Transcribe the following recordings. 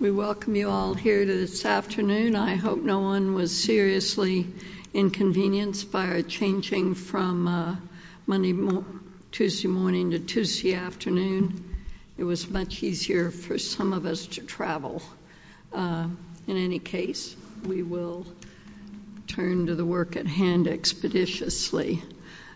We welcome you all here this afternoon. I hope no one was seriously inconvenienced by our changing from Monday, Tuesday morning to Tuesday afternoon. It was much easier for some of us to travel. In any case, we will turn to the work at hand expeditiously.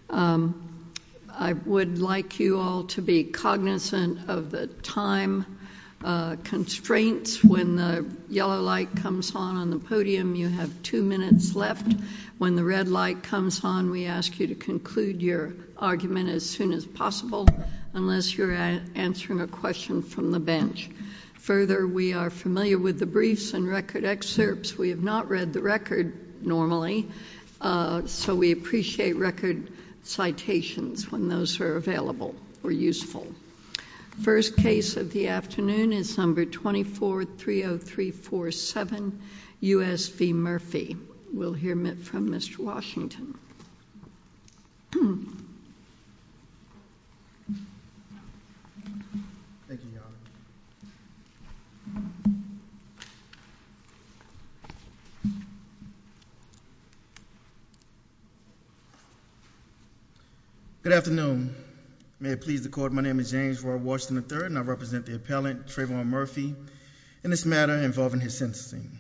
I would like you all to be cognizant of the time constraints. When the yellow light comes on on the podium, you have two minutes left. When the red light comes on, we ask you to conclude your argument as soon as possible, unless you're answering a question from the bench. Further, we are familiar with the briefs and record excerpts. We have not read the record normally, so we appreciate record citations when those are available or useful. First case of the afternoon is number 2430347, U.S. v. Murphy. We'll hear from Mr. Washington. Good afternoon. May it please the court, my name is James Roy Washington III, and I represent the appellant, Trayvon Murphy, in this matter involving his sentencing.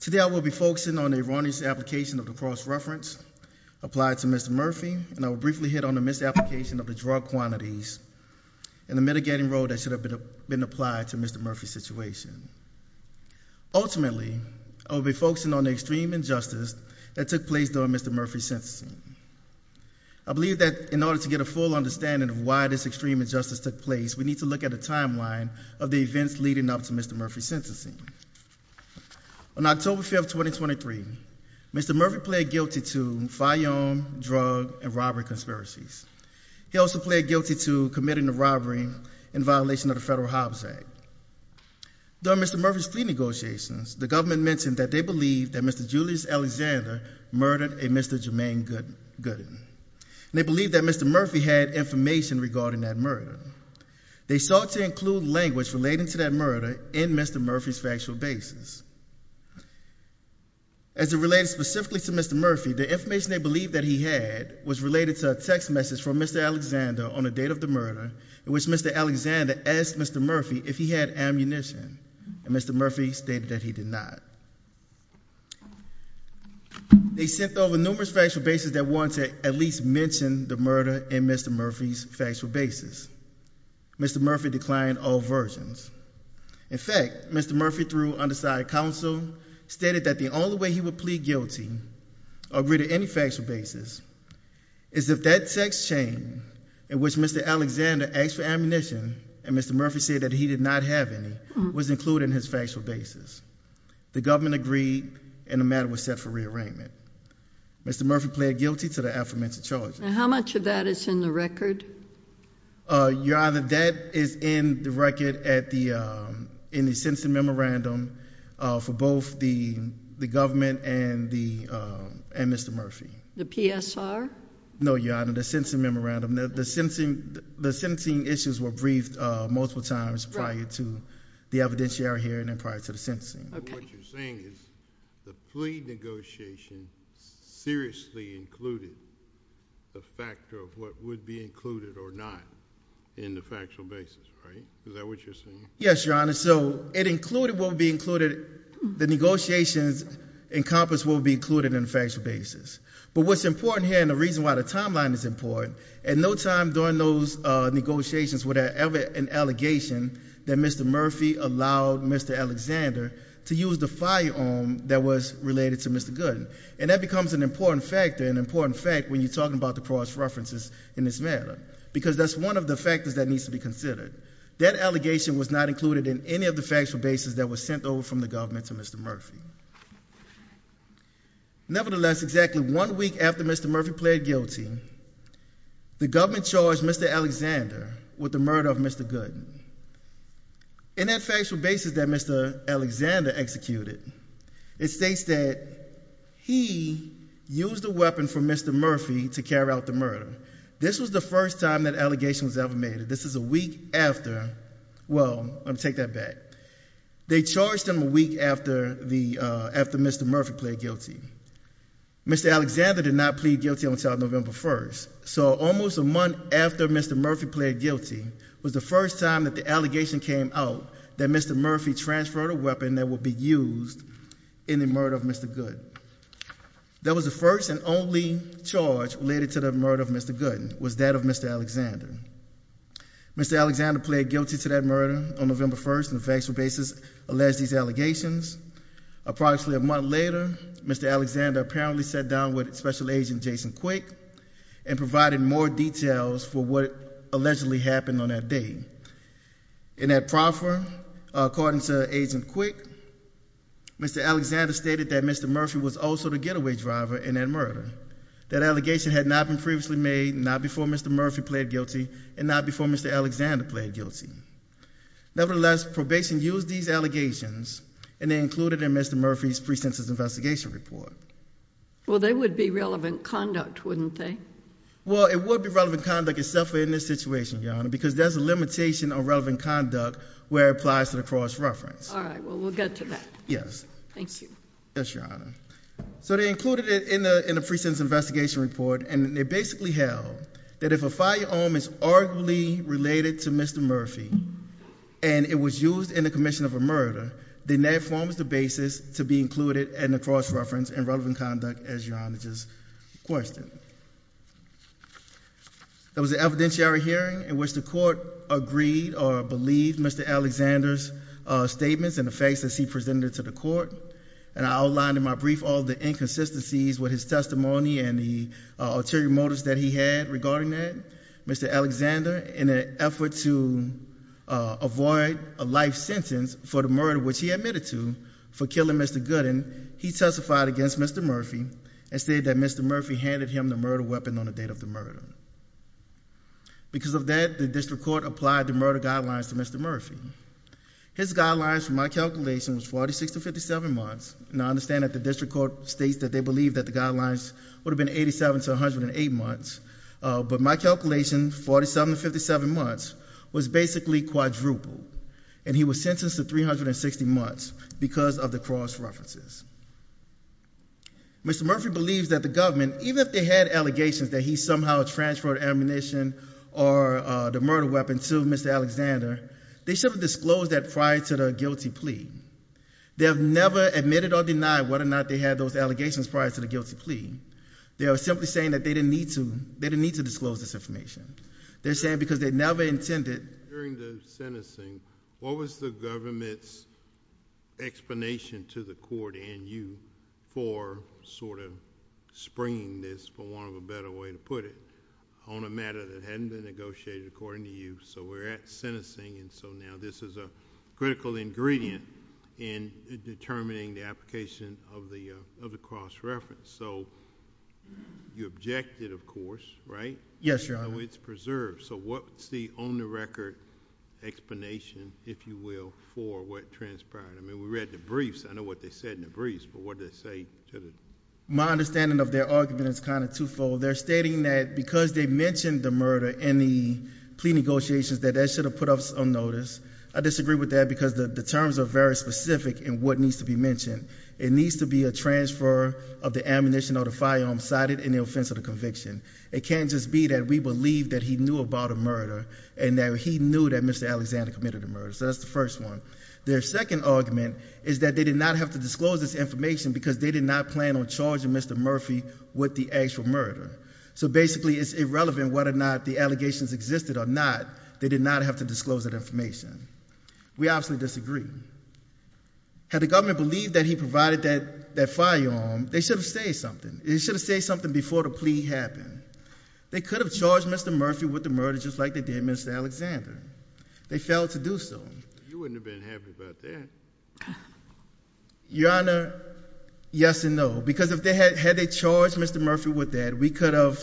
Today I will be focusing on the erroneous application of the cross-reference applied to Mr. Murphy, and I will briefly hit on the misapplication of the drug quantities and the mitigating role that should have been applied to Mr. Murphy's situation. Ultimately, I will be focusing on the extreme injustice that took place during Mr. Murphy's sentencing. I believe that in order to get a full understanding of why this extreme injustice took place, we need to look at a timeline of the events leading up to Mr. Murphy's sentencing. On October 5, 2023, Mr. Murphy pled guilty to firearm, drug, and robbery conspiracies. He also pled guilty to committing the robbery in violation of the Federal Hobbs Act. During Mr. Murphy's plea negotiations, the government mentioned that they believed that Mr. Julius Alexander murdered a Mr. Jermaine Gooden. They believed that Mr. Murphy had information regarding that murder. They sought to include language relating to that murder in Mr. Murphy's factual basis. As it relates specifically to Mr. Murphy, the information they believed that he had was related to a text message from Mr. Alexander on the date of the murder in which Mr. Alexander asked Mr. Murphy if he had ammunition, and Mr. Murphy stated that he did not. They sent over numerous factual basis that wanted to at least mention the murder in Mr. Murphy's factual basis. Mr. Murphy declined all versions. In fact, Mr. Murphy, through undecided counsel, stated that the only way he would plead guilty or agree to any factual basis is if that text chain in which Mr. Alexander asked for ammunition, and Mr. Murphy said that he did not have any, was included in his factual basis. The government agreed, and the matter was set for rearrangement. Mr. Murphy pled guilty to the aforementioned charges. And how much of that is in the record? Your Honor, that is in the record in the sentencing memorandum for both the government and Mr. Murphy. The PSR? No, Your Honor, the sentencing memorandum. The sentencing issues were briefed multiple times prior to the evidentiary hearing and prior to the sentencing. What you're saying is the plea negotiation seriously included the factor of what would be included or not in the factual basis, right? Is that what you're saying? Yes, Your Honor, so it included what would be included, the negotiations encompassed what would be included in the factual basis. But what's important here, and the reason why the timeline is important, at no time during those negotiations were there ever an allegation that Mr. Murphy allowed Mr. Alexander to use the firearm that was related to Mr. Gooden. And that becomes an important factor, an important fact, when you're talking about the pros references in this matter. Because that's one of the factors that needs to be considered. That allegation was not included in any of the factual basis that was sent over from the government to Mr. Murphy. Nevertheless, exactly one week after Mr. Murphy pled guilty, the government charged Mr. Alexander with the murder of Mr. Gooden. In that factual basis that Mr. Alexander executed, it states that he used a weapon from Mr. Murphy to carry out the murder. This was the first time that allegation was ever made. This is a week after, well, I'll take that back. They charged him a week after Mr. Murphy pled guilty. Mr. Alexander did not plead guilty until November 1st. So almost a month after Mr. Murphy pled guilty was the first time that the allegation came out that Mr. Murphy transferred a weapon that would be used in the murder of Mr. Gooden. That was the first and only charge related to the murder of Mr. Gooden, was that of Mr. Alexander. Mr. Alexander pled guilty to that murder on November 1st on a factual basis, alleged these allegations. Approximately a month later, Mr. Alexander apparently sat down with Special Agent Jason Quick and provided more details for what allegedly happened on that day. In that proffer, according to Agent Quick, Mr. Alexander stated that Mr. Murphy was also the getaway driver in that murder. That allegation had not been previously made, not before Mr. Murphy pled guilty, and not before Mr. Alexander pled guilty. Nevertheless, probation used these allegations and they included in Mr. Murphy's pre-sentence investigation report. Well, they would be relevant conduct, wouldn't they? Well, it would be relevant conduct itself in this situation, Your Honor, because there's a limitation on relevant conduct where it applies to the cross-reference. All right, well, we'll get to that. Yes. Thank you. Yes, Your Honor. So they included it in the pre-sentence investigation report, and they basically held that if a firearm is arguably related to Mr. Murphy and it was used in the commission of a murder, then that forms the basis to be included in the cross-reference and relevant conduct, as Your Honor just questioned. There was an evidentiary hearing in which the court agreed or believed Mr. Alexander's statements and the facts that he presented to the court, and I outlined in my brief all the inconsistencies with his testimony and the ulterior motives that he had regarding that. Mr. Alexander, in an effort to avoid a life sentence for the murder which he admitted to for killing Mr. Gooden, he testified against Mr. Murphy and said that Mr. Murphy handed him the murder weapon on the date of the murder. Because of that, the district court applied the murder guidelines to Mr. Murphy. His guidelines, from my calculation, was 46 to 57 months, and I understand that the district court states that they believe that the guidelines would have been 87 to 108 months, but my calculation, 47 to 57 months, was basically quadrupled, and he was sentenced to 360 months because of the cross-references. Mr. Murphy believes that the government, even if they had allegations that he somehow transferred ammunition or the murder weapon to Mr. Alexander, they should have disclosed that prior to the guilty plea. They have never admitted or denied whether or not they had those allegations prior to the guilty plea. They are simply saying that they didn't need to disclose this information. They're saying because they never intended. During the sentencing, what was the government's explanation to the court and you for sort of springing this, for want of a better way to put it, on a matter that hadn't been negotiated according to you? So we're at sentencing, and so now this is a critical ingredient in determining the application of the cross-reference. So you objected, of course, right? Yes, Your Honor. It's preserved. So what's the on-the-record explanation, if you will, for what transpired? I mean, we read the briefs. I know what they said in the briefs, but what did they say to the— My understanding of their argument is kind of twofold. They're stating that because they mentioned the murder in the plea negotiations, that that should have put us on notice. I disagree with that because the terms are very specific in what needs to be mentioned. It needs to be a transfer of the ammunition or the firearm cited in the offense or the conviction. It can't just be that we believe that he knew about a murder and that he knew that Mr. Alexander committed a murder. So that's the first one. Their second argument is that they did not have to disclose this information because they did not plan on charging Mr. Murphy with the actual murder. So basically, it's irrelevant whether or not the allegations existed or not. They did not have to disclose that information. We absolutely disagree. Had the government believed that he provided that firearm, they should have said something. They should have said something before the plea happened. They could have charged Mr. Murphy with the murder just like they did Mr. Alexander. They failed to do so. You wouldn't have been happy about that. Your Honor, yes and no. Because had they charged Mr. Murphy with that, we could have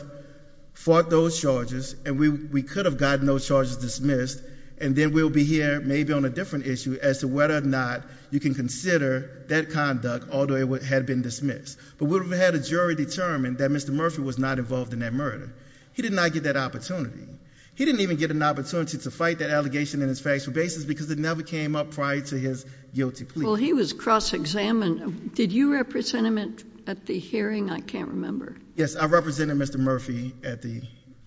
fought those charges, and we could have gotten those charges dismissed, and then we'll be here maybe on a different issue as to whether or not you can consider that conduct, although it had been dismissed. But we would have had a jury determine that Mr. Murphy was not involved in that murder. He did not get that opportunity. He didn't even get an opportunity to fight that allegation in his factual basis because it never came up prior to his guilty plea. Well, he was cross-examined. Did you represent him at the hearing? I can't remember. Yes, I represented Mr. Murphy at the,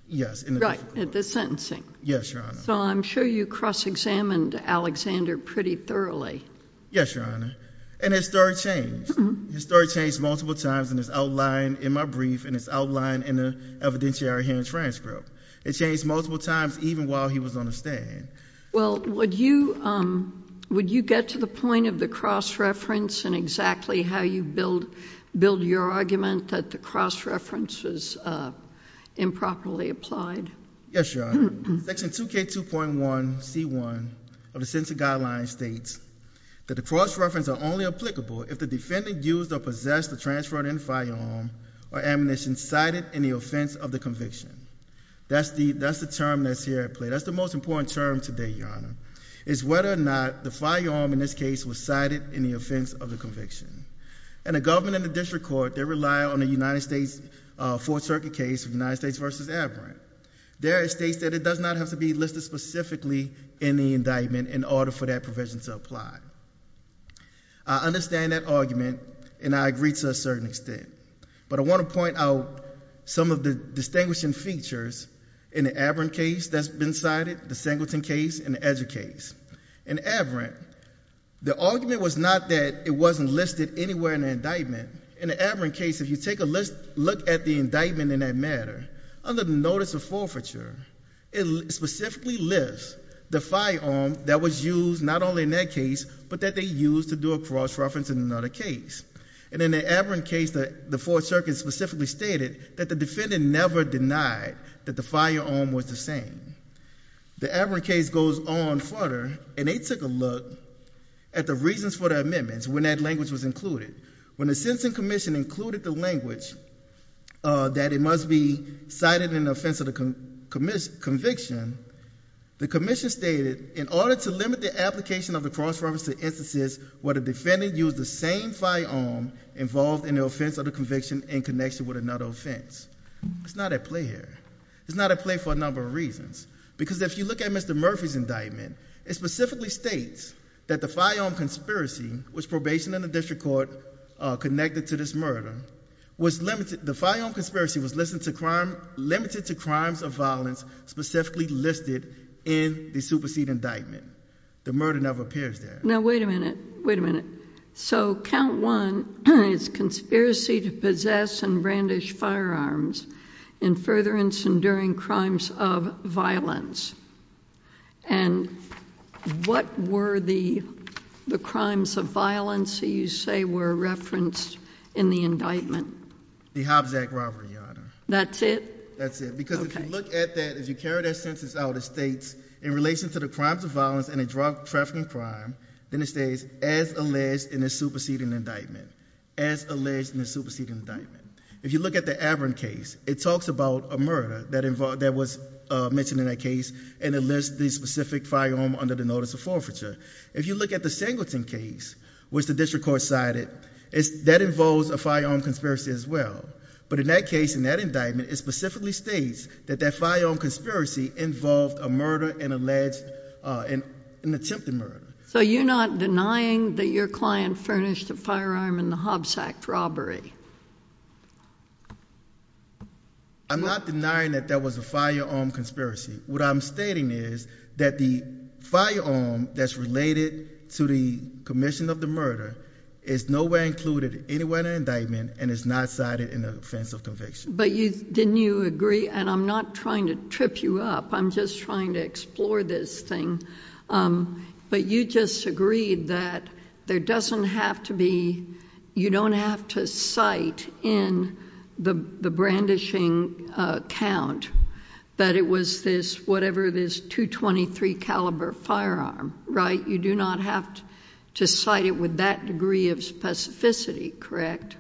yes. Right, at the sentencing. Yes, Your Honor. So I'm sure you cross-examined Alexander pretty thoroughly. Yes, Your Honor. And his story changed. His story changed multiple times in his outline in my brief and his outline in the evidentiary hearing transcript. It changed multiple times even while he was on the stand. Well, would you get to the point of the cross-reference and exactly how you build your argument that the cross-reference is improperly applied? Yes, Your Honor. Section 2K2.1C1 of the Sentencing Guidelines states that the cross-reference are only applicable if the defendant used or possessed a transferred-in firearm or ammunition cited in the offense of the conviction. That's the term that's here at play. That's the most important term today, Your Honor, is whether or not the firearm in this case was cited in the offense of the conviction. And the government and the district court, they rely on the United States Fourth Circuit case of United States v. Averant. There it states that it does not have to be listed specifically in the indictment in order for that provision to apply. I understand that argument, and I agree to a certain extent. But I want to point out some of the distinguishing features in the Averant case that's been cited, the Singleton case, and the Ezra case. In Averant, the argument was not that it wasn't listed anywhere in the indictment. In the Averant case, if you take a look at the indictment in that matter, under the notice of forfeiture, it specifically lists the firearm that was used not only in that case, but that they used to do a cross-reference in another case. And in the Averant case, the Fourth Circuit specifically stated that the defendant never denied that the firearm was the same. The Averant case goes on further, and they took a look at the reasons for the amendments when that language was included. When the Sentencing Commission included the language that it must be cited in the offense of the conviction, the commission stated, in order to limit the application of the cross-reference to instances where the defendant used the same firearm involved in the offense of the conviction in connection with another offense. It's not at play here. It's not at play for a number of reasons. Because if you look at Mr. Murphy's indictment, it specifically states that the firearm conspiracy, which probation and the district court connected to this murder, the firearm conspiracy was limited to crimes of violence specifically listed in the supersede indictment. The murder never appears there. Now, wait a minute. Wait a minute. So, count one is conspiracy to possess and brandish firearms in further incendiary crimes of violence. And what were the crimes of violence that you say were referenced in the indictment? The Hobbs Act robbery, Your Honor. That's it? That's it. Because if you look at that, if you carry that census out, it states, in relation to the crimes of violence and a drug trafficking crime, then it states, as alleged in the superseding indictment. As alleged in the superseding indictment. If you look at the Avron case, it talks about a murder that was mentioned in that case, and it lists the specific firearm under the notice of forfeiture. If you look at the Singleton case, which the district court cited, that involves a firearm conspiracy as well. But in that case, in that indictment, it specifically states that that firearm conspiracy involved a murder and an attempted murder. So you're not denying that your client furnished a firearm in the Hobbs Act robbery? I'm not denying that that was a firearm conspiracy. What I'm stating is that the firearm that's related to the commission of the murder is nowhere included anywhere in the indictment, and is not cited in the offense of conviction. But didn't you agree, and I'm not trying to trip you up, I'm just trying to explore this thing, but you just agreed that you don't have to cite in the brandishing account that it was this 223 caliber firearm, right? You do not have to cite it with that degree of specificity, correct?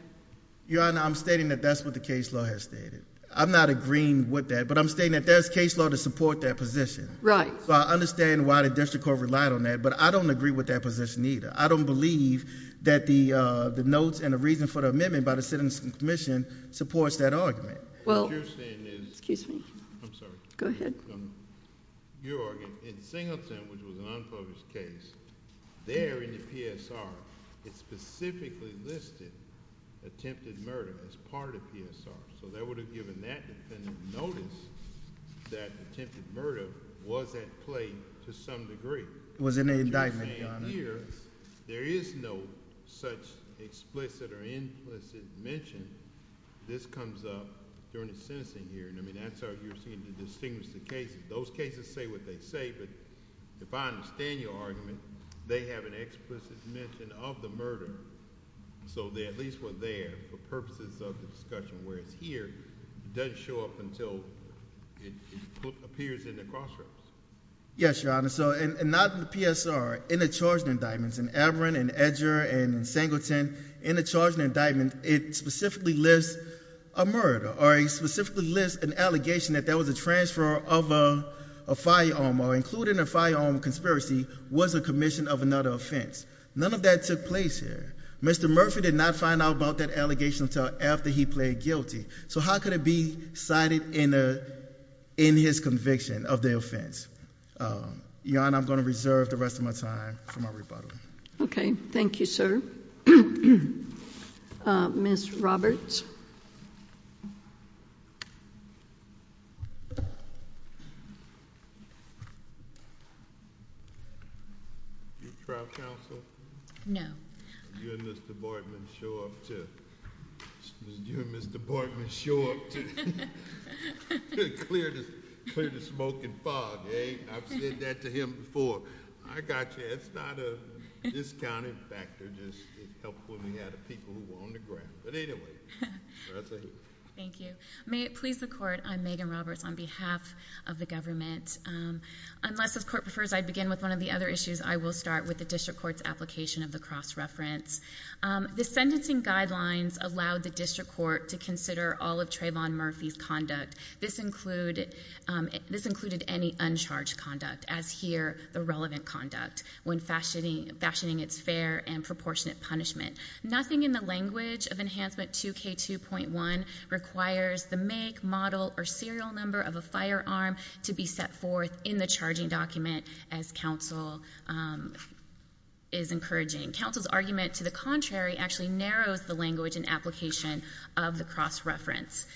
Your Honor, I'm stating that that's what the case law has stated. I'm not agreeing with that, but I'm stating that there's case law to support that position. Right. So I understand why the district court relied on that, but I don't agree with that position either. I don't believe that the notes and the reason for the amendment by the citizen's commission supports that argument. What you're saying is- Excuse me. I'm sorry. Go ahead. Your argument, in Singleton, which was an unfocused case, there in the PSR, it specifically listed attempted murder as part of PSR. So that would have given that defendant notice that attempted murder was at play to some degree. It was an indictment, Your Honor. What you're saying here, there is no such explicit or implicit mention. This comes up during a sentencing hearing. I mean, that's how you seem to distinguish the cases. Those cases say what they say, but if I understand your argument, they have an explicit mention of the murder. So they at least were there for purposes of the discussion. Whereas here, it doesn't show up until it appears in the cross reference. Yes, Your Honor. So not in the PSR, in the charged indictments. In Averant and Edger and Singleton, in the charged indictment, it specifically lists a murder. Or it specifically lists an allegation that there was a transfer of a firearm, or including a firearm conspiracy, was a commission of another offense. None of that took place here. Mr. Murphy did not find out about that allegation until after he pled guilty. So how could it be cited in his conviction of the offense? Your Honor, I'm going to reserve the rest of my time for my rebuttal. Okay. Thank you, sir. Ms. Roberts. Your trial counsel? No. You and Mr. Bartman show up to clear the smoking fog. I've said that to him before. I got you. It's not a discounting factor. It just helps when we have the people who are on the ground. Thank you. May it please the Court, I'm Megan Roberts on behalf of the government. Unless the Court prefers I begin with one of the other issues, I will start with the District Court's application of the cross-reference. The sentencing guidelines allowed the District Court to consider all of Trayvon Murphy's conduct. This included any uncharged conduct, as here the relevant conduct, when fashioning its fair and proportionate punishment. Nothing in the language of Enhancement 2K2.1 requires the make, model, or serial number of a firearm to be set forth in the charging document, as counsel is encouraging. Counsel's argument to the contrary actually narrows the language and application of the cross-reference.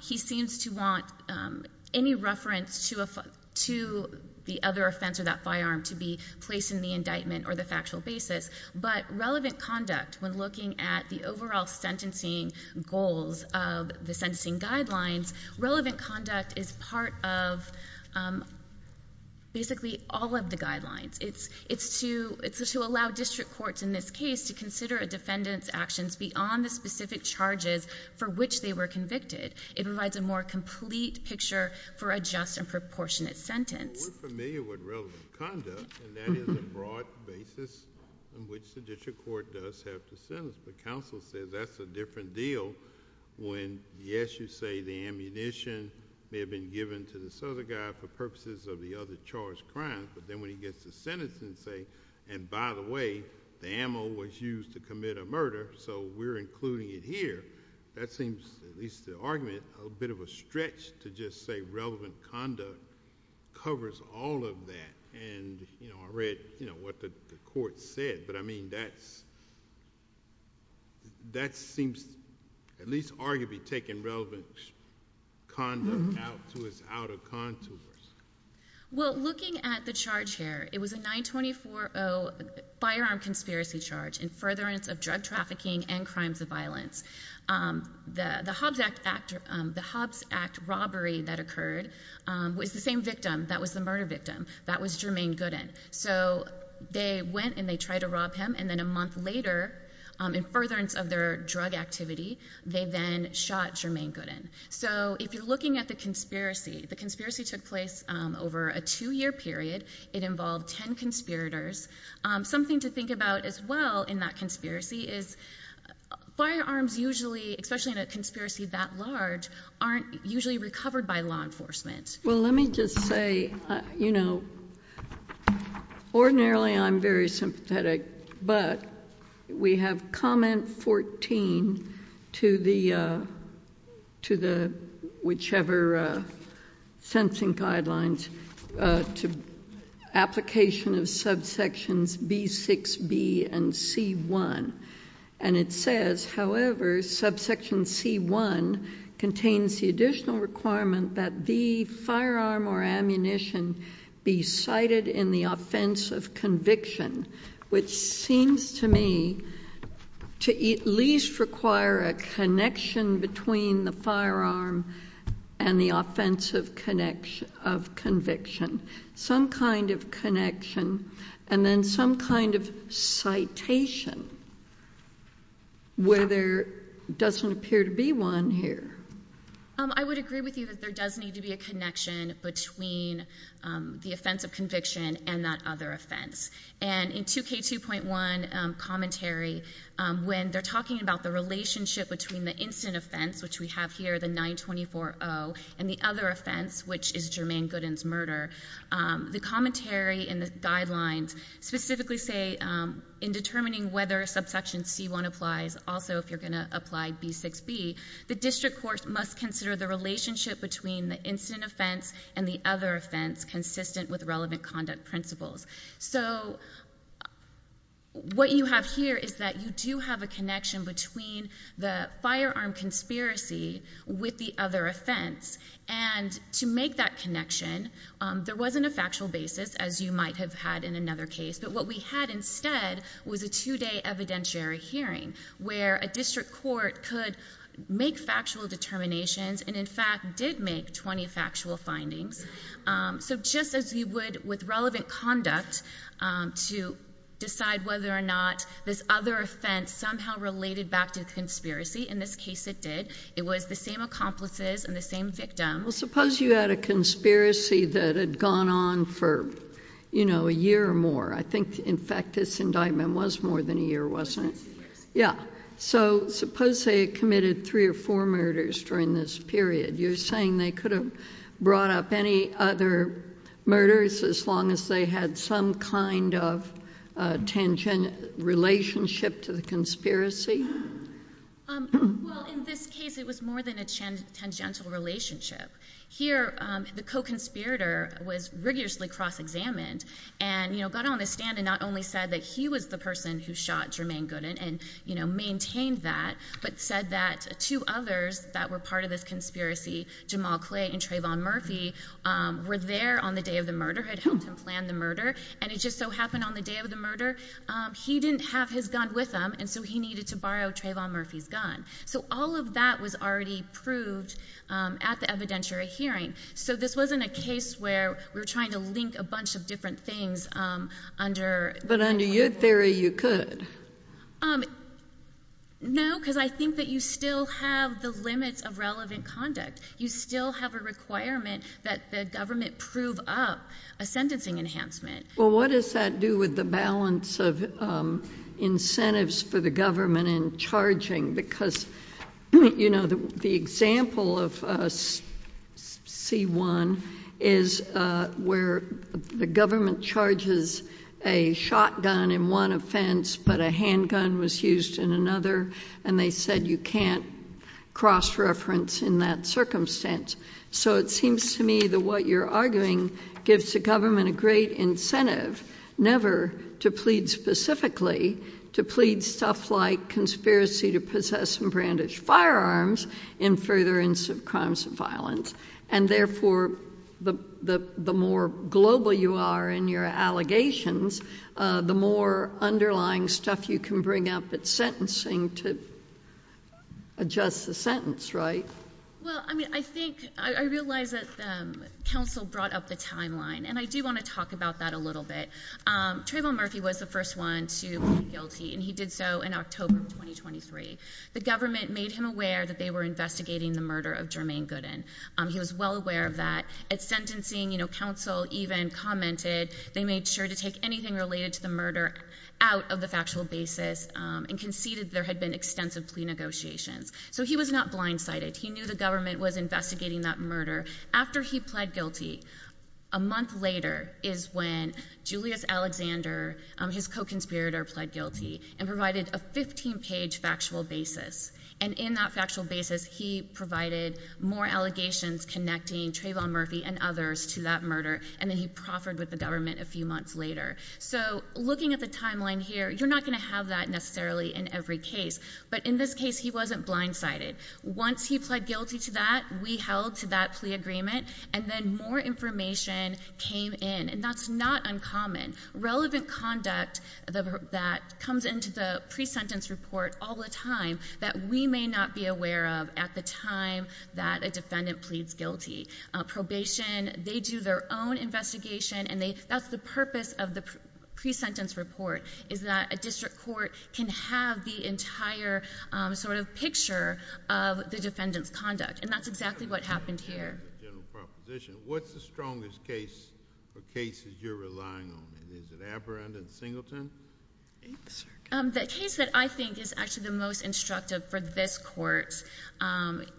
He seems to want any reference to the other offense or that firearm to be placed in the indictment or the factual basis. But relevant conduct, when looking at the overall sentencing goals of the sentencing guidelines, relevant conduct is part of basically all of the guidelines. It's to allow District Courts in this case to consider a defendant's actions beyond the specific charges for which they were convicted. It provides a more complete picture for a just and proportionate sentence. We're familiar with relevant conduct, and that is a broad basis on which the District Court does have to sentence. But counsel said that's a different deal when, yes, you say the ammunition may have been given to this other guy for purposes of the other charged crime. But then when he gets a sentence and say, and by the way, the ammo was used to commit a murder, so we're including it here. That seems, at least the argument, a bit of a stretch to just say relevant conduct covers all of that. And I read what the court said, but that seems at least arguably taking relevant conduct out to its outer contours. Well, looking at the charge here, it was a 924-0 firearm conspiracy charge in furtherance of drug trafficking and crimes of violence. The Hobbs Act robbery that occurred was the same victim. That was the murder victim. That was Jermaine Gooden. So they went and they tried to rob him, and then a month later, in furtherance of their drug activity, they then shot Jermaine Gooden. So if you're looking at the conspiracy, the conspiracy took place over a two-year period. It involved ten conspirators. Something to think about as well in that conspiracy is firearms usually, especially in a conspiracy that large, aren't usually recovered by law enforcement. Well, let me just say, you know, ordinarily I'm very sympathetic, but we have comment 14 to whichever sentencing guidelines to application of subsections B6B and C1. And it says, however, subsection C1 contains the additional requirement that the firearm or ammunition be cited in the offense of conviction, which seems to me to at least require a connection between the firearm and the offense of conviction. Some kind of connection, and then some kind of citation where there doesn't appear to be one here. I would agree with you that there does need to be a connection between the offense of conviction and that other offense. And in 2K2.1 commentary, when they're talking about the relationship between the incident offense, which we have here, the 924-0, and the other offense, which is Jermaine Gooden's murder, the commentary in the guidelines specifically say, in determining whether subsection C1 applies, also if you're going to apply B6B, the district court must consider the relationship between the incident offense and the other offense consistent with relevant conduct principles. So what you have here is that you do have a connection between the firearm conspiracy with the other offense. And to make that connection, there wasn't a factual basis, as you might have had in another case. But what we had instead was a two-day evidentiary hearing where a district court could make factual determinations and, in fact, did make 20 factual findings. So just as you would with relevant conduct to decide whether or not this other offense somehow related back to the conspiracy, in this case it did. It was the same accomplices and the same victim. Well, suppose you had a conspiracy that had gone on for, you know, a year or more. I think, in fact, this indictment was more than a year, wasn't it? Yeah. So suppose they had committed three or four murders during this period. You're saying they could have brought up any other murders as long as they had some kind of relationship to the conspiracy? Well, in this case, it was more than a tangential relationship. Here, the co-conspirator was rigorously cross-examined and, you know, got on the stand and not only said that he was the person who shot Jermaine Gooden and, you know, maintained that, but said that two others that were part of this conspiracy, Jamal Clay and Trayvon Murphy, were there on the day of the murder, had helped him plan the murder, and it just so happened on the day of the murder, he didn't have his gun with him, and so he needed to borrow Trayvon Murphy's gun. So all of that was already proved at the evidentiary hearing. So this wasn't a case where we were trying to link a bunch of different things under— But under your theory, you could. No, because I think that you still have the limits of relevant conduct. You still have a requirement that the government prove up a sentencing enhancement. Well, what does that do with the balance of incentives for the government in charging? Because, you know, the example of C-1 is where the government charges a shotgun in one offense but a handgun was used in another, and they said you can't cross-reference in that circumstance. So it seems to me that what you're arguing gives the government a great incentive never to plead specifically, to plead stuff like conspiracy to possess and brandish firearms in further instance of crimes of violence, and therefore the more global you are in your allegations, the more underlying stuff you can bring up at sentencing to adjust the sentence, right? Well, I mean, I think—I realize that counsel brought up the timeline, and I do want to talk about that a little bit. Trayvon Murphy was the first one to plead guilty, and he did so in October of 2023. The government made him aware that they were investigating the murder of Jermaine Gooden. He was well aware of that. At sentencing, you know, counsel even commented they made sure to take anything related to the murder out of the factual basis and conceded there had been extensive plea negotiations. So he was not blindsided. He knew the government was investigating that murder. After he pled guilty, a month later is when Julius Alexander, his co-conspirator, pled guilty and provided a 15-page factual basis. And in that factual basis, he provided more allegations connecting Trayvon Murphy and others to that murder, and then he proffered with the government a few months later. So looking at the timeline here, you're not going to have that necessarily in every case. But in this case, he wasn't blindsided. Once he pled guilty to that, we held to that plea agreement, and then more information came in, and that's not uncommon. Relevant conduct that comes into the pre-sentence report all the time that we may not be aware of at the time that a defendant pleads guilty. Probation, they do their own investigation, and that's the purpose of the pre-sentence report is that a district court can have the entire sort of picture of the defendant's conduct. And that's exactly what happened here. What's the strongest case or cases you're relying on? Is it Aberrant and Singleton? The case that I think is actually the most instructive for this court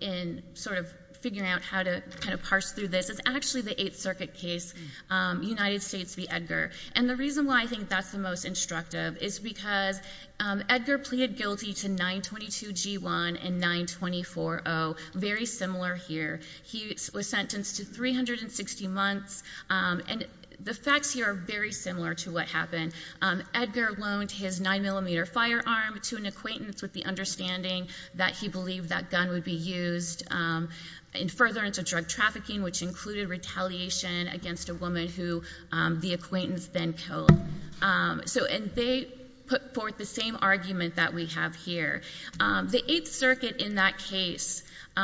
in sort of figuring out how to kind of parse through this is actually the Eighth Circuit case, United States v. Edgar. And the reason why I think that's the most instructive is because Edgar pleaded guilty to 922G1 and 924O, very similar here. He was sentenced to 360 months, and the facts here are very similar to what happened. Edgar loaned his 9mm firearm to an acquaintance with the understanding that he believed that gun would be used in furtherance of drug trafficking, which included retaliation against a woman who the acquaintance then killed. And they put forth the same argument that we have here. The Eighth Circuit in that case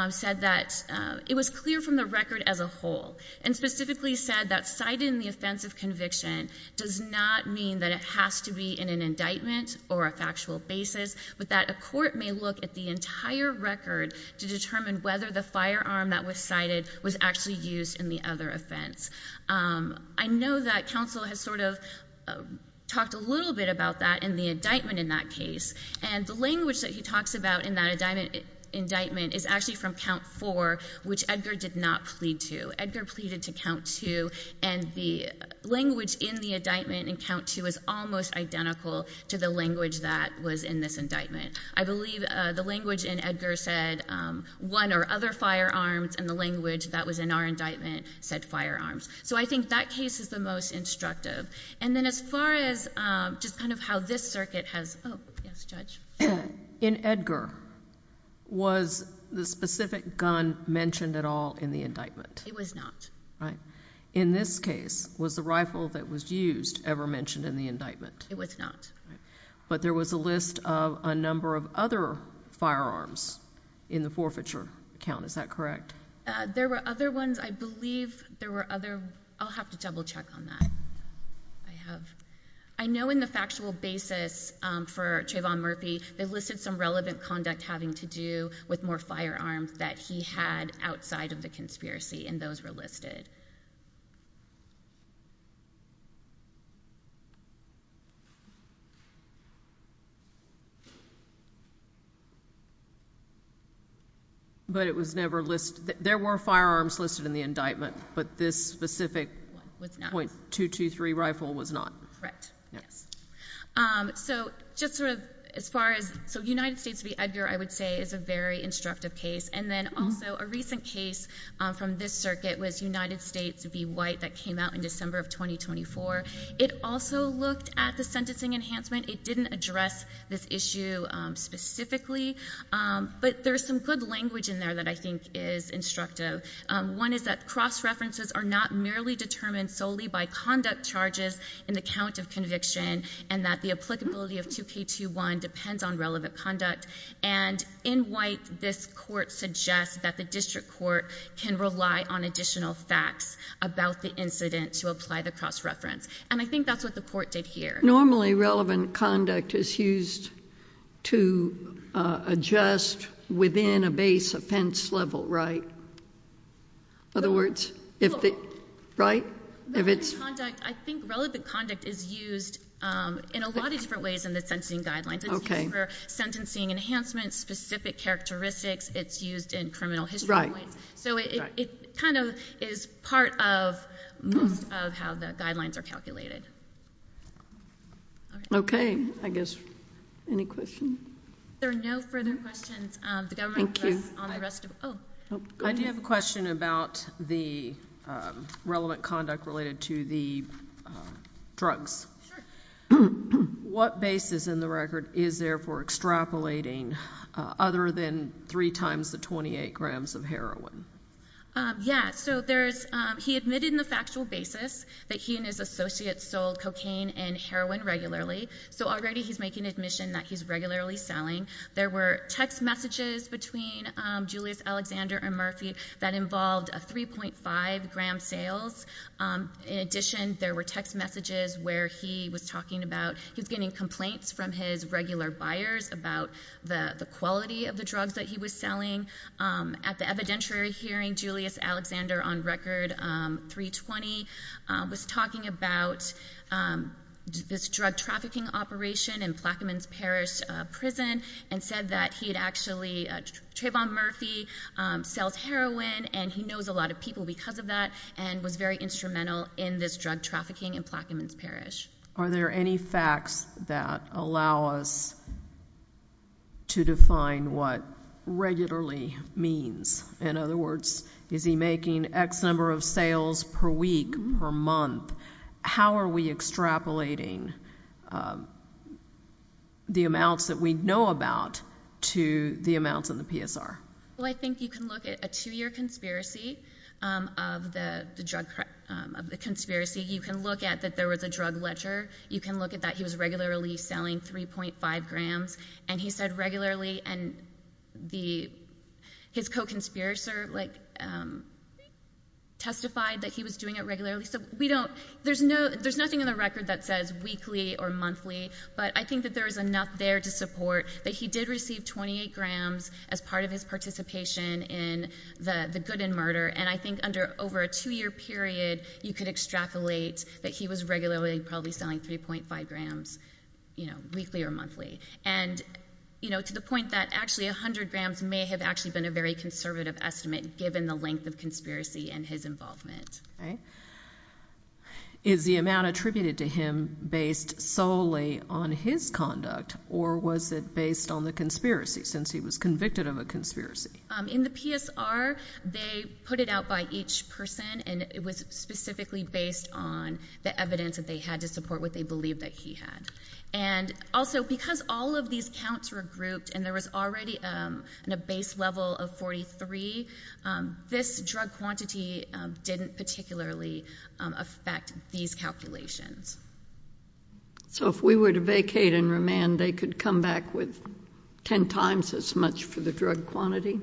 said that it was clear from the record as a whole, and specifically said that citing the offense of conviction does not mean that it has to be in an indictment or a factual basis, but that a court may look at the entire record to determine whether the firearm that was cited was actually used in the other offense. I know that counsel has sort of talked a little bit about that in the indictment in that case, and the language that he talks about in that indictment is actually from Count 4, which Edgar did not plead to. Edgar pleaded to Count 2, and the language in the indictment in Count 2 is almost identical to the language that was in this indictment. I believe the language in Edgar said, one or other firearms, and the language that was in our indictment said firearms. So I think that case is the most instructive. And then as far as just kind of how this circuit has – oh, yes, Judge. In Edgar, was the specific gun mentioned at all in the indictment? It was not. In this case, was the rifle that was used ever mentioned in the indictment? It was not. But there was a list of a number of other firearms in the forfeiture count, is that correct? There were other ones. I believe there were other – I'll have to double check on that. I know in the factual basis for Trayvon Murphy, they listed some relevant conduct having to do with more firearms that he had outside of the conspiracy, and those were listed. But it was never listed – there were firearms listed in the indictment, but this specific .223 rifle was not? Correct. So just sort of as far as – so United States v. Edgar, I would say, is a very instructive case. And then also, a recent case from this circuit was United States v. White that came out in December of 2024. It also looked at the sentencing enhancement. It didn't address this issue specifically, but there's some good language in there that I think is instructive. One is that cross-references are not merely determined solely by conduct charges in the count of conviction and that the applicability of 2K21 depends on relevant conduct. And in White, this court suggests that the district court can rely on additional facts about the incident to apply the cross-reference. And I think that's what the court did here. Normally, relevant conduct is used to adjust within a base offense level, right? In other words, if the – right? I think relevant conduct is used in a lot of different ways in the sentencing guidelines. It's used for sentencing enhancements, specific characteristics. It's used in criminal history points. Right. So it kind of is part of most of how the guidelines are calculated. Okay. I guess – any questions? There are no further questions. Thank you. I do have a question about the relevant conduct related to the drugs. Sure. What basis in the record is there for extrapolating other than three times the 28 grams of heroin? Yeah, so there's – he admitted in the factual basis that he and his associates sold cocaine and heroin regularly. So already he's making admission that he's regularly selling. There were text messages between Julius Alexander and Murphy that involved a 3.5-gram sales. In addition, there were text messages where he was talking about – he was getting complaints from his regular buyers about the quality of the drugs that he was selling. At the evidentiary hearing, Julius Alexander, on record 320, was talking about this drug trafficking operation in Plaquemines Parish prison and said that he had actually – Trayvon Murphy sells heroin, and he knows a lot of people because of that and was very instrumental in this drug trafficking in Plaquemines Parish. Are there any facts that allow us to define what regularly means? In other words, is he making X number of sales per week, per month? How are we extrapolating the amounts that we know about to the amounts in the PSR? Well, I think you can look at a two-year conspiracy of the drug – of the conspiracy. You can look at that there was a drug ledger. You can look at that he was regularly selling 3.5 grams, and he said regularly, and his co-conspirator testified that he was doing it regularly. So we don't – there's nothing in the record that says weekly or monthly, but I think that there is enough there to support that he did receive 28 grams as part of his participation in the good and murder, and I think under over a two-year period, you could extrapolate that he was regularly probably selling 3.5 grams weekly or monthly. And, you know, to the point that actually 100 grams may have actually been a very conservative estimate given the length of conspiracy and his involvement. Okay. Is the amount attributed to him based solely on his conduct, or was it based on the conspiracy since he was convicted of a conspiracy? In the PSR, they put it out by each person, and it was specifically based on the evidence that they had to support what they believed that he had. And also because all of these counts were grouped and there was already a base level of 43, this drug quantity didn't particularly affect these calculations. So if we were to vacate and remand, they could come back with ten times as much for the drug quantity?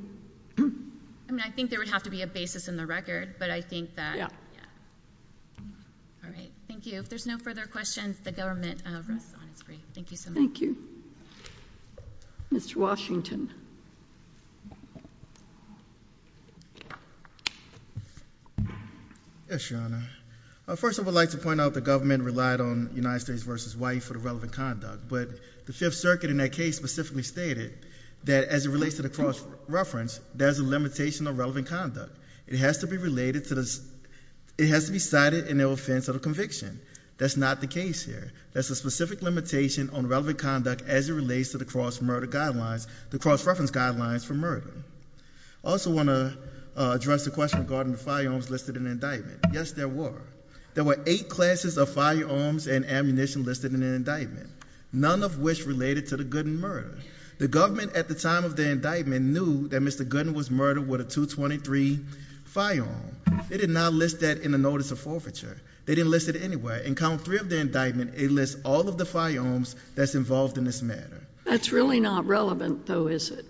I mean, I think there would have to be a basis in the record, but I think that, yeah. All right. Thank you. If there's no further questions, the government rests on its brief. Thank you so much. Thank you. Mr. Washington. Yes, Your Honor. First, I would like to point out the government relied on United States v. Hawaii for the relevant conduct, but the Fifth Circuit in that case specifically stated that as it relates to the cross-reference, there's a limitation of relevant conduct. It has to be cited in their offense of the conviction. That's not the case here. There's a specific limitation on relevant conduct as it relates to the cross-reference guidelines for murder. I also want to address the question regarding the firearms listed in the indictment. Yes, there were. There were eight classes of firearms and ammunition listed in the indictment, none of which related to the Gooden murder. The government at the time of the indictment knew that Mr. Gooden was murdered with a .223 firearm. They did not list that in the notice of forfeiture. They didn't list it anywhere. In count three of the indictment, it lists all of the firearms that's involved in this matter. That's really not relevant, though, is it?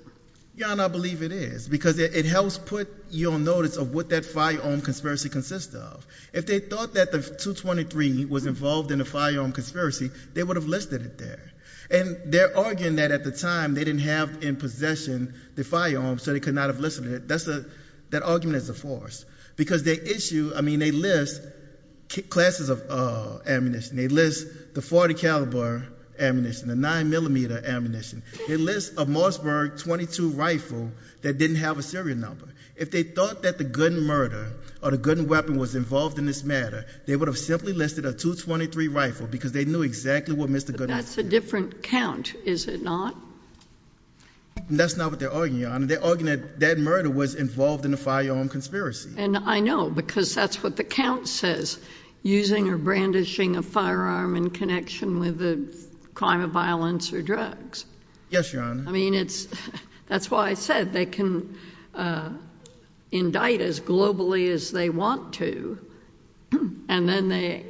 Your Honor, I believe it is because it helps put you on notice of what that firearm conspiracy consists of. If they thought that the .223 was involved in the firearm conspiracy, they would have listed it there. And they're arguing that at the time, they didn't have in possession the firearm, so they could not have listed it. That argument is a farce. Because they issue, I mean, they list classes of ammunition. They list the .40 caliber ammunition, the 9mm ammunition. They list a Mossberg .22 rifle that didn't have a serial number. If they thought that the Gooden murder or the Gooden weapon was involved in this matter, they would have simply listed a .223 rifle because they knew exactly what Mr. Gooden was involved in. That's a different count, is it not? That's not what they're arguing, Your Honor. They're arguing that that murder was involved in the firearm conspiracy. And I know because that's what the count says, using or brandishing a firearm in connection with a crime of violence or drugs. Yes, Your Honor. I mean, that's why I said they can indict as globally as they want to, and then they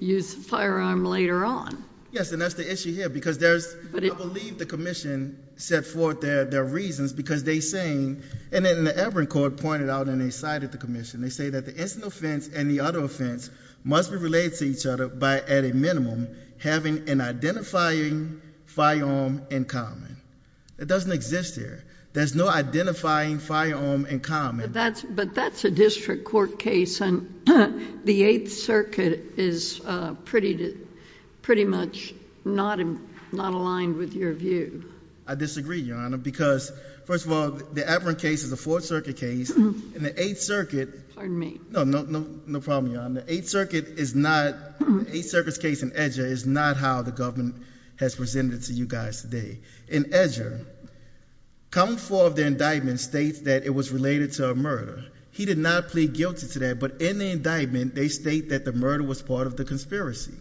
use the firearm later on. Yes, and that's the issue here, because there's... I believe the commission set forth their reasons, because they're saying... And then the Everett Court pointed out on the side of the commission, they say that the instant offense and the other offense must be related to each other by, at a minimum, having an identifying firearm in common. It doesn't exist here. There's no identifying firearm in common. But that's a district court case, and the Eighth Circuit is pretty much not aligned with your view. I disagree, Your Honor, because, first of all, the Everett case is a Fourth Circuit case, and the Eighth Circuit... Pardon me. No, no problem, Your Honor. The Eighth Circuit is not... the Eighth Circuit's case in Edger is not how the government has presented it to you guys today. In Edger, column four of the indictment states that it was related to a murder. He did not plead guilty to that, but in the indictment, they state that the murder was part of the conspiracy.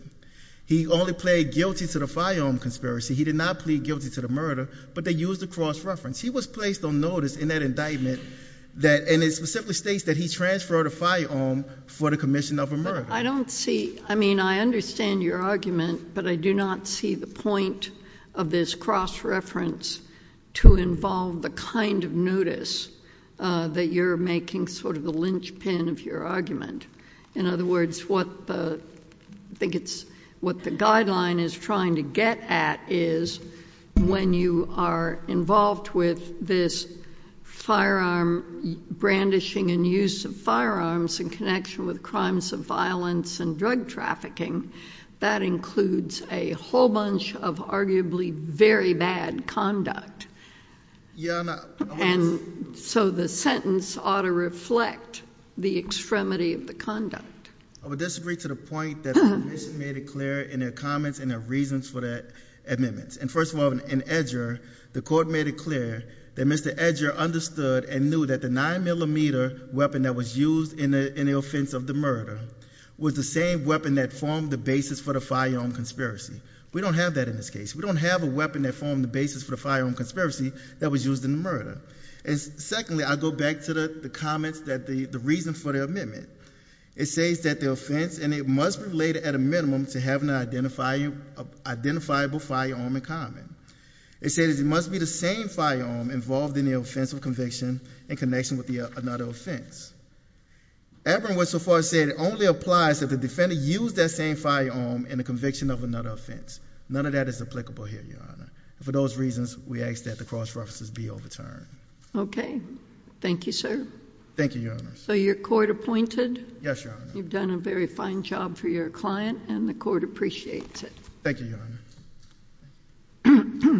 He only plead guilty to the firearm conspiracy. He did not plead guilty to the murder, but they used a cross-reference. He was placed on notice in that indictment that... And it simply states that he transferred a firearm for the commission of a murder. I don't see... I mean, I understand your argument, but I do not see the point of this cross-reference to involve the kind of notice that you're making, sort of the linchpin of your argument. In other words, what the... I think it's... what the guideline is trying to get at is when you are involved with this firearm brandishing and use of firearms in connection with crimes of violence and drug trafficking, that includes a whole bunch of arguably very bad conduct. Your Honor... And so, the sentence ought to reflect the extremity of the conduct. I would disagree to the point that the commission made it clear in their comments and their reasons for that amendment. And first of all, in Edger, the court made it clear that Mr. Edger understood and knew that the 9mm weapon that was used in the offense of the murder was the same weapon that formed the basis for the firearm conspiracy. We don't have that in this case. We don't have a weapon that formed the basis for the firearm conspiracy that was used in the murder. And secondly, I go back to the comments that... the reason for the amendment. It says that the offense... and it must be related at a minimum to having an identifiable firearm in common. It says it must be the same firearm involved in the offense of conviction in connection with another offense. Everyone so far said it only applies if the defendant used that same firearm in the conviction of another offense. None of that is applicable here, Your Honor. For those reasons, we ask that the cross-references be overturned. Okay. Thank you, sir. Thank you, Your Honor. So, you're court-appointed? Yes, Your Honor. You've done a very fine job for your client, and the court appreciates it. Thank you, Your Honor.